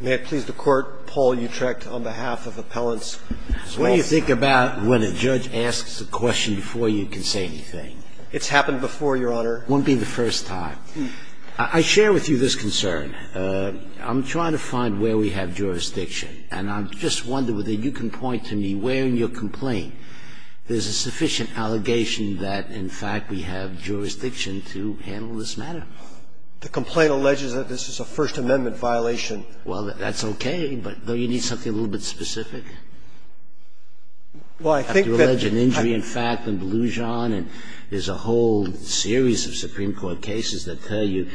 May it please the Court, Paul Utrecht on behalf of Appellants. What do you think about when a judge asks a question before you can say anything? It's happened before, Your Honor. It won't be the first time. I share with you this concern. I'm trying to find where we have jurisdiction, and I'm just wondering whether you can point to me where in your complaint there's a sufficient allegation that, in fact, we have jurisdiction to handle this matter. The complaint alleges that this is a First Amendment violation. Well, that's okay, but don't you need something a little bit specific? Well, I think that you're alleging injury, in fact, and delusion, and there's a whole series of Supreme Court cases that tell you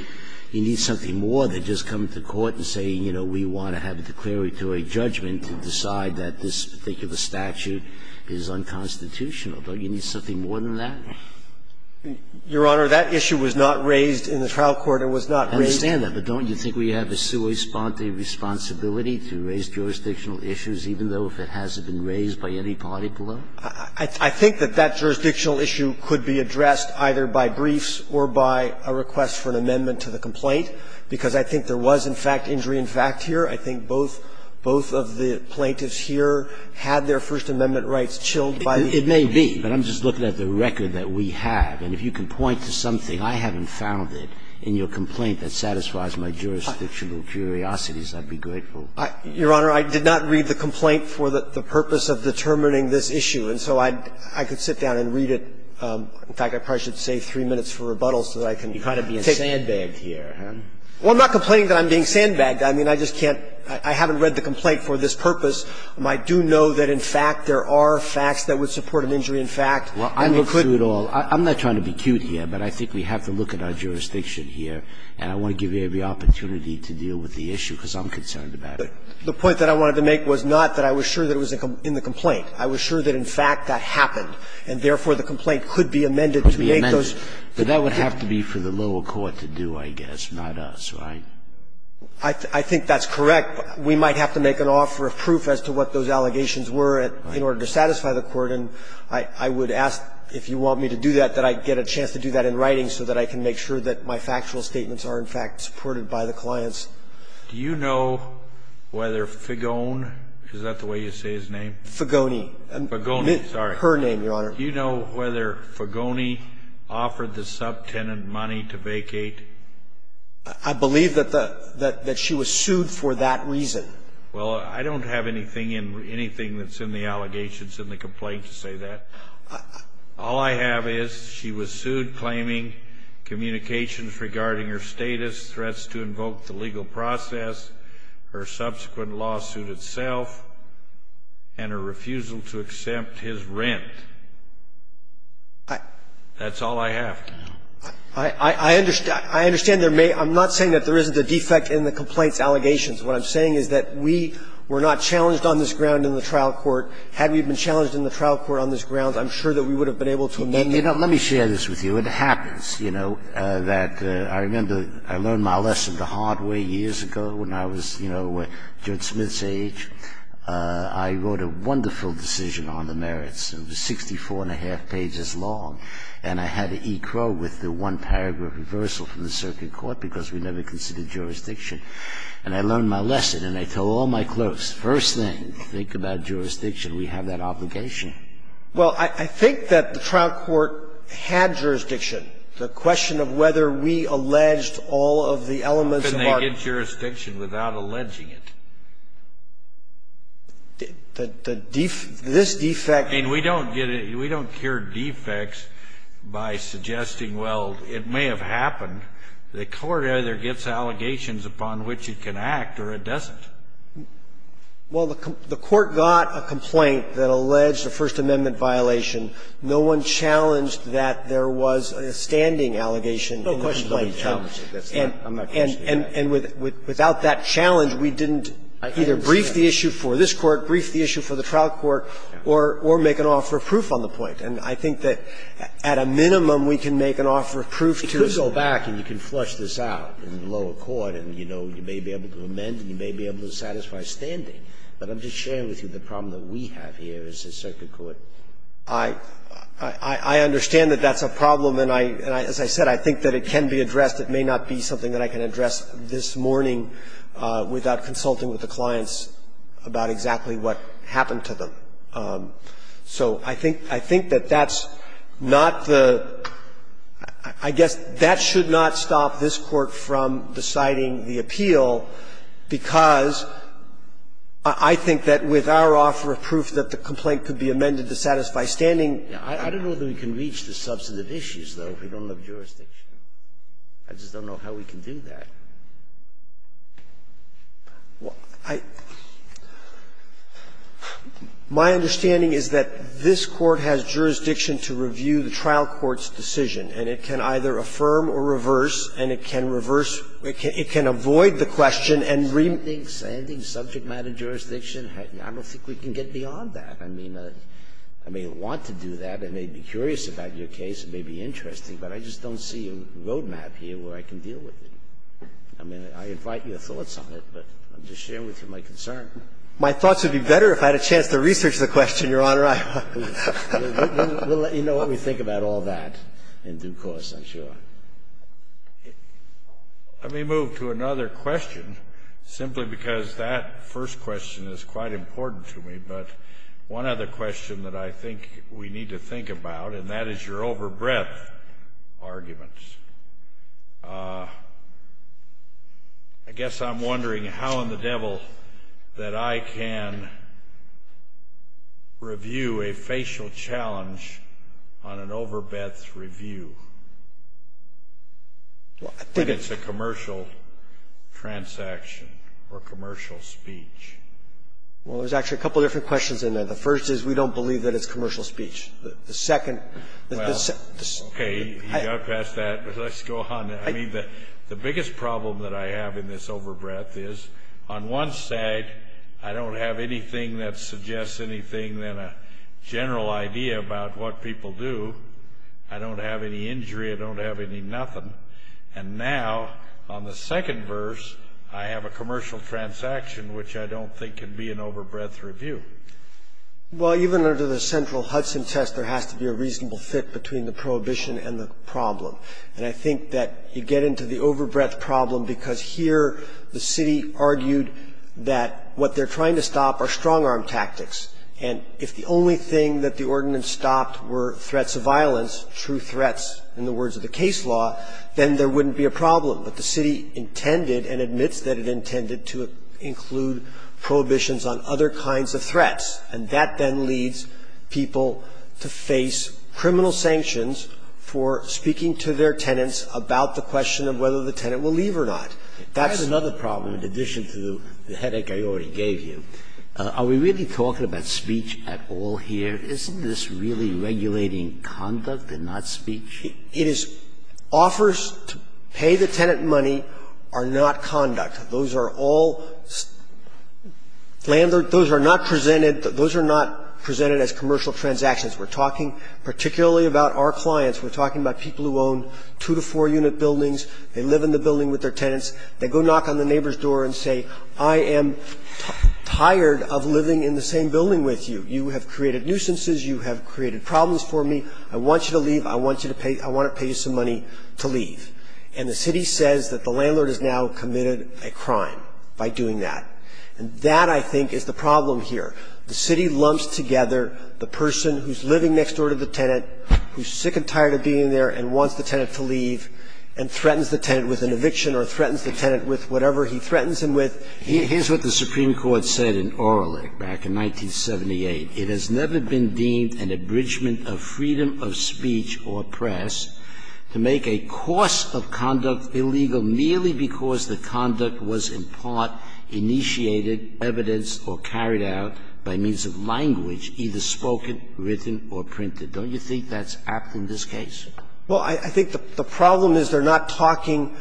you need something more than just come to court and say, you know, we want to have a declaratory judgment to decide that this particular statute is unconstitutional. Don't you need something more than that? Your Honor, that issue was not raised in the trial court. It was not raised. I understand that, but don't you think we have a sua sponte responsibility to raise jurisdictional issues, even though if it hasn't been raised by any party below? I think that that jurisdictional issue could be addressed either by briefs or by a request for an amendment to the complaint, because I think there was, in fact, injury in fact here. I think both of the plaintiffs here had their First Amendment rights chilled by the complaint. But I'm just looking at the record that we have, and if you can point to something I haven't found in your complaint that satisfies my jurisdictional curiosities, I'd be grateful. Your Honor, I did not read the complaint for the purpose of determining this issue. And so I could sit down and read it. In fact, I probably should save three minutes for rebuttal so that I can take it. You're kind of being sandbagged here. Well, I'm not complaining that I'm being sandbagged. I mean, I just can't – I haven't read the complaint for this purpose. I do know that, in fact, there are facts that would support an injury in fact. Well, I look through it all. I'm not trying to be cute here, but I think we have to look at our jurisdiction here, and I want to give you every opportunity to deal with the issue, because I'm concerned about it. The point that I wanted to make was not that I was sure that it was in the complaint. I was sure that, in fact, that happened, and therefore the complaint could be amended to make those. Could be amended. But that would have to be for the lower court to do, I guess, not us, right? I think that's correct. We might have to make an offer of proof as to what those allegations were in order to satisfy the court, and I would ask, if you want me to do that, that I get a chance to do that in writing so that I can make sure that my factual statements are, in fact, supported by the clients. Do you know whether Fagone – is that the way you say his name? Fagone. Fagone, sorry. Her name, Your Honor. Do you know whether Fagone offered the subtenant money to vacate? I believe that the – that she was sued for that reason. Well, I don't have anything in – anything that's in the allegations in the complaint to say that. All I have is she was sued claiming communications regarding her status, threats to invoke the legal process, her subsequent lawsuit itself, and her refusal to accept his rent. I – That's all I have. I understand – I understand there may – I'm not saying that there isn't a defect in the complaint's allegations. What I'm saying is that we were not challenged on this ground in the trial court. Had we been challenged in the trial court on this ground, I'm sure that we would have been able to amend it. Let me share this with you. It happens, you know, that I remember I learned my lesson the hard way years ago when I was, you know, Judge Smith's age. I wrote a wonderful decision on the merits. It was 64-and-a-half pages long, and I had to ecrow with the one-paragraph reversal from the circuit court because we never considered jurisdiction. And I learned my lesson, and I told all my clerks, first thing, think about jurisdiction. We have that obligation. Well, I think that the trial court had jurisdiction. The question of whether we alleged all of the elements of our – How can they get jurisdiction without alleging it? The – this defect – I mean, we don't get it. We don't cure defects by suggesting, well, it may have happened. The court either gets allegations upon which it can act or it doesn't. Well, the court got a complaint that alleged a First Amendment violation. No one challenged that there was a standing allegation in the complaint. No one challenged it. I'm not questioning that. And without that challenge, we didn't either brief the issue for this Court, brief And I think that at a minimum, we can make an offer of proof to us. If you go back and you can flush this out in lower court and, you know, you may be able to amend and you may be able to satisfy standing, but I'm just sharing with you the problem that we have here as a circuit court. I understand that that's a problem, and I – as I said, I think that it can be addressed. It may not be something that I can address this morning without consulting with the clients about exactly what happened to them. So I think that that's not the – I guess that should not stop this Court from deciding the appeal, because I think that with our offer of proof that the complaint could be amended to satisfy standing. I don't know that we can reach the substantive issues, though, if we don't have jurisdiction. I just don't know how we can do that. Well, I – my understanding is that this Court has jurisdiction to review the trial court's decision, and it can either affirm or reverse, and it can reverse – it can avoid the question and – Standing, subject matter jurisdiction? I don't think we can get beyond that. I mean, I may want to do that. I may be curious about your case. It may be interesting. But I just don't see a roadmap here where I can deal with it. I mean, I invite your thoughts on it, but I'm just sharing with you my concern. My thoughts would be better if I had a chance to research the question, Your Honor. We'll let you know what we think about all that in due course, I'm sure. Let me move to another question, simply because that first question is quite important to me, but one other question that I think we need to think about, and that is your overbreadth arguments. I guess I'm wondering how in the devil that I can review a facial challenge on an overbreadth review. I think it's a commercial transaction or commercial speech. Well, there's actually a couple different questions in there. The first is we don't believe that it's commercial speech. The second – Well, okay, you got past that. Let's go on. I mean, the biggest problem that I have in this overbreadth is on one side, I don't have anything that suggests anything than a general idea about what people do. I don't have any injury. I don't have any nothing. And now, on the second verse, I have a commercial transaction, which I don't think can be an overbreadth review. Well, even under the central Hudson test, there has to be a reasonable fit between the prohibition and the problem. And I think that you get into the overbreadth problem because here the city argued that what they're trying to stop are strong-arm tactics. And if the only thing that the ordinance stopped were threats of violence, true threats in the words of the case law, then there wouldn't be a problem. But the city intended and admits that it intended to include prohibitions on other kinds of threats, and that then leads people to face criminal sanctions for speaking to their tenants about the question of whether the tenant will leave or not. That's the problem. That's another problem in addition to the headache I already gave you. Are we really talking about speech at all here? Isn't this really regulating conduct and not speech? It is. Offers to pay the tenant money are not conduct. Those are not presented as commercial transactions. We're talking particularly about our clients. We're talking about people who own two- to four-unit buildings. They live in the building with their tenants. They go knock on the neighbor's door and say, I am tired of living in the same building with you. You have created nuisances. You have created problems for me. I want you to leave. I want to pay you some money to leave. And the city says that the landlord has now committed a crime by doing that. And that, I think, is the problem here. The city lumps together the person who's living next door to the tenant, who's sick and tired of being there and wants the tenant to leave, and threatens the tenant with an eviction or threatens the tenant with whatever he threatens him with. Here's what the Supreme Court said in Orlick back in 1978. It has never been deemed an abridgment of freedom of speech or press to make a course of conduct illegal merely because the conduct was in part initiated, evidenced or carried out by means of language, either spoken, written or printed. Don't you think that's apt in this case? Well, I think the problem is they're not talking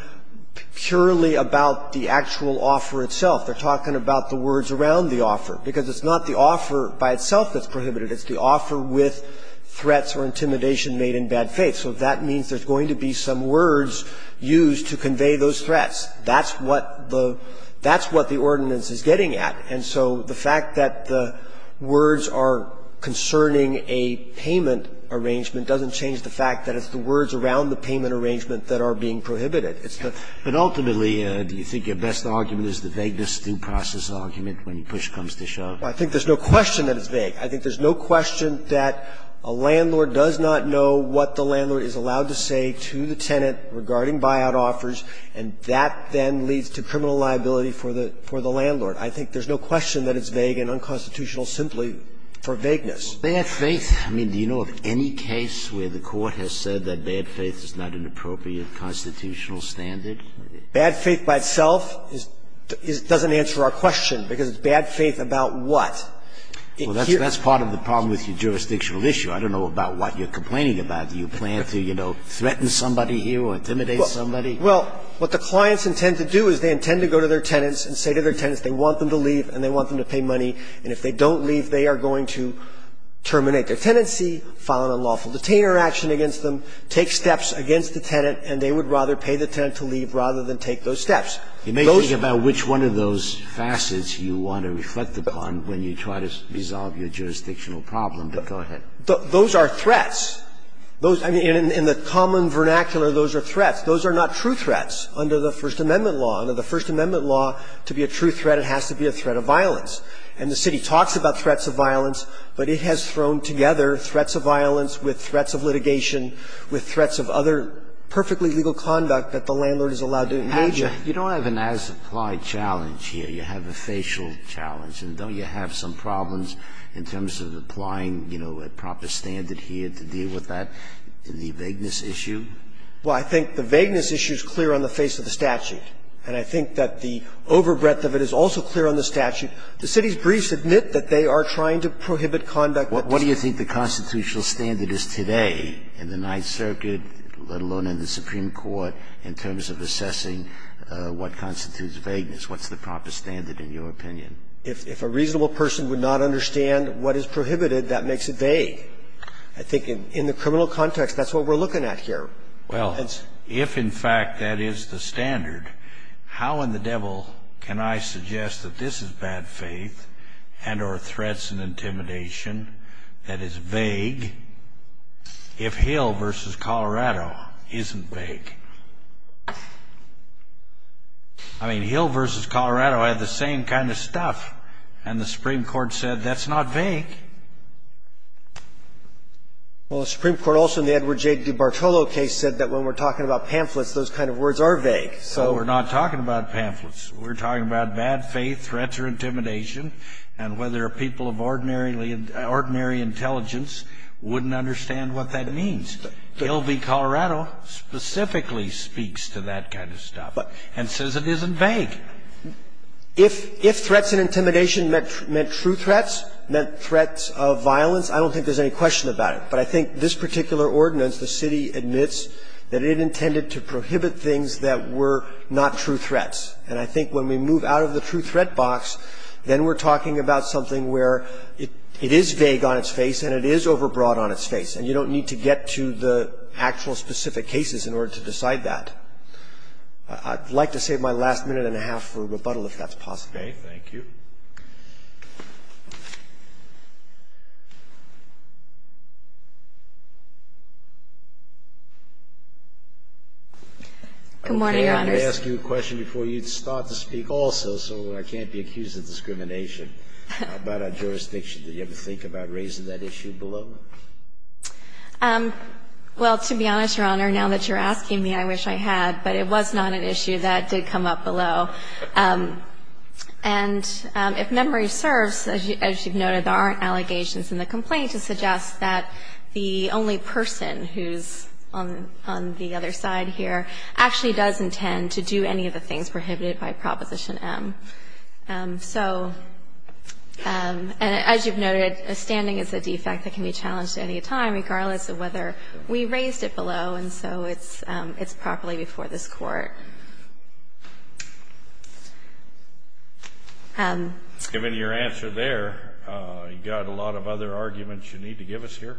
purely about the actual offer itself. They're talking about the words around the offer, because it's not the offer by itself that's prohibited. It's the offer with threats or intimidation made in bad faith. So that means there's going to be some words used to convey those threats. That's what the ordinance is getting at. And so the fact that the words are concerning a payment arrangement doesn't change the fact that it's the words around the payment arrangement that are being prohibited. But ultimately, do you think your best argument is the vagueness due process argument when push comes to shove? Well, I think there's no question that it's vague. I think there's no question that a landlord does not know what the landlord is allowed to say to the tenant regarding buyout offers, and that then leads to criminal liability for the landlord. I think there's no question that it's vague and unconstitutional simply for vagueness. Bad faith? I mean, do you know of any case where the Court has said that bad faith is not an appropriate constitutional standard? Bad faith by itself doesn't answer our question, because it's bad faith about what? Well, that's part of the problem with your jurisdictional issue. I don't know about what you're complaining about. Do you plan to, you know, threaten somebody here or intimidate somebody? Well, what the clients intend to do is they intend to go to their tenants and say to their tenants they want them to leave and they want them to pay money, and if they don't leave, they are going to terminate their tenancy, file an unlawful detainer action against them, take steps against the tenant, and they would rather pay the tenant to leave rather than take those steps. You may think about which one of those facets you want to reflect upon when you try to resolve your jurisdictional problem, but go ahead. Those are threats. Those are, in the common vernacular, those are threats. Those are not true threats under the First Amendment law. Under the First Amendment law, to be a true threat, it has to be a threat of violence. And the city talks about threats of violence, but it has thrown together threats of violence with threats of litigation, with threats of other perfectly legal conduct that the landlord is allowed to engage in. You don't have an as-applied challenge here. You have a facial challenge. And don't you have some problems in terms of applying, you know, a proper standard here to deal with that in the vagueness issue? Well, I think the vagueness issue is clear on the face of the statute. And I think that the overbreadth of it is also clear on the statute. What do you think the constitutional standard is today in the Ninth Circuit, let alone in the Supreme Court, in terms of assessing what constitutes vagueness? What's the proper standard, in your opinion? If a reasonable person would not understand what is prohibited, that makes it vague. I think in the criminal context, that's what we're looking at here. Well, if in fact that is the standard, how in the devil can I suggest that this is bad faith and or threats and intimidation that is vague if Hill v. Colorado isn't vague? I mean, Hill v. Colorado had the same kind of stuff. And the Supreme Court said that's not vague. Well, the Supreme Court also in the Edward J. DiBartolo case said that when we're talking about pamphlets, those kind of words are vague. So we're not talking about pamphlets. We're talking about bad faith, threats or intimidation, and whether a people of ordinary intelligence wouldn't understand what that means. Hill v. Colorado specifically speaks to that kind of stuff and says it isn't vague. If threats and intimidation meant true threats, meant threats of violence, I don't think there's any question about it. But I think this particular ordinance, the city admits that it intended to prohibit things that were not true threats. And I think when we move out of the true threat box, then we're talking about something where it is vague on its face and it is overbroad on its face, and you don't need to get to the actual specific cases in order to decide that. I'd like to save my last minute and a half for rebuttal if that's possible. Okay, thank you. Good morning, Your Honors. I wanted to ask you a question before you start to speak also, so I can't be accused of discrimination. About our jurisdiction, did you ever think about raising that issue below? Well, to be honest, Your Honor, now that you're asking me, I wish I had. But it was not an issue that did come up below. And if memory serves, as you've noted, there aren't allegations in the complaint to suggest that the only person who's on the other side here actually does intend to do any of the things prohibited by Proposition M. So as you've noted, a standing is a defect that can be challenged at any time, regardless of whether we raised it below, and so it's properly before this Court. Given your answer there, you got a lot of other arguments you need to give us here?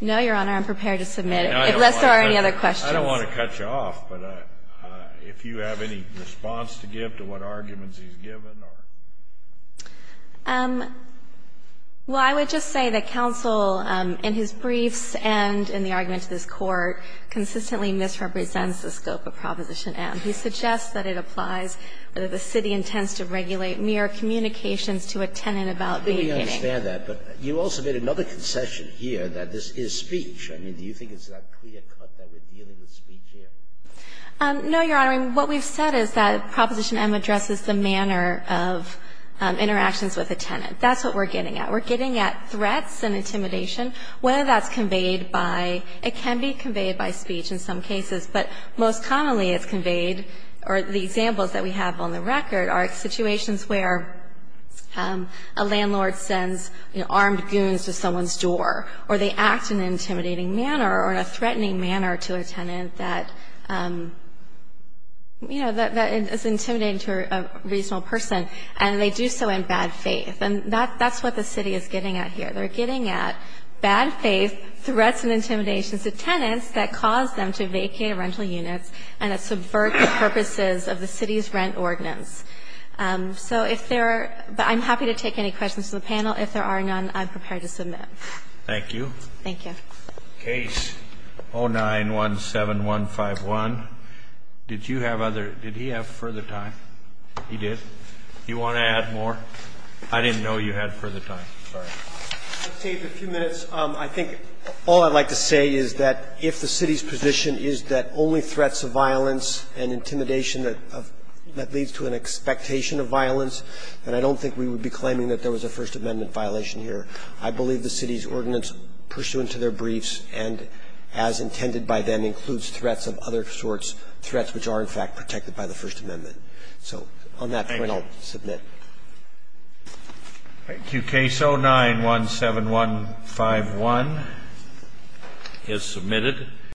No, Your Honor. I'm prepared to submit it, unless there are any other questions. I don't want to cut you off, but if you have any response to give to what arguments he's given or... Well, I would just say that counsel, in his briefs and in the argument to this Court, consistently misrepresents the scope of Provision M. He suggests that it applies, that the city intends to regulate mere communications to a tenant about being hit. I think we understand that. But you also made another concession here, that this is speech. I mean, do you think it's that clear cut that we're dealing with speech here? No, Your Honor. What we've said is that Proposition M addresses the manner of interactions with a tenant. That's what we're getting at. We're getting at threats and intimidation. Whether that's conveyed by – it can be conveyed by speech in some cases, but most commonly it's conveyed – or the examples that we have on the record are situations where a landlord sends armed goons to someone's door, or they act in an intimidating manner or in a threatening manner to a tenant that, you know, that is intimidating to a reasonable person, and they do so in bad faith. And that's what the city is getting at here. They're getting at bad faith threats and intimidation to tenants that cause them to vacate rental units and that subvert the purposes of the city's rent ordinance. So if there are – but I'm happy to take any questions from the panel. If there are none, I'm prepared to submit. Thank you. Thank you. Case 09-17151. Did you have other – did he have further time? He did? Do you want to add more? I didn't know you had further time. Sorry. I'll take a few minutes. I think all I'd like to say is that if the city's position is that only threats of violence and intimidation that leads to an expectation of violence, then I don't think we would be claiming that there was a First Amendment violation here. I believe the city's ordinance pursuant to their briefs and as intended by them includes threats of other sorts, threats which are, in fact, protected by the First So on that point, I'll submit. Thank you. All right. Case 09-17151 is submitted.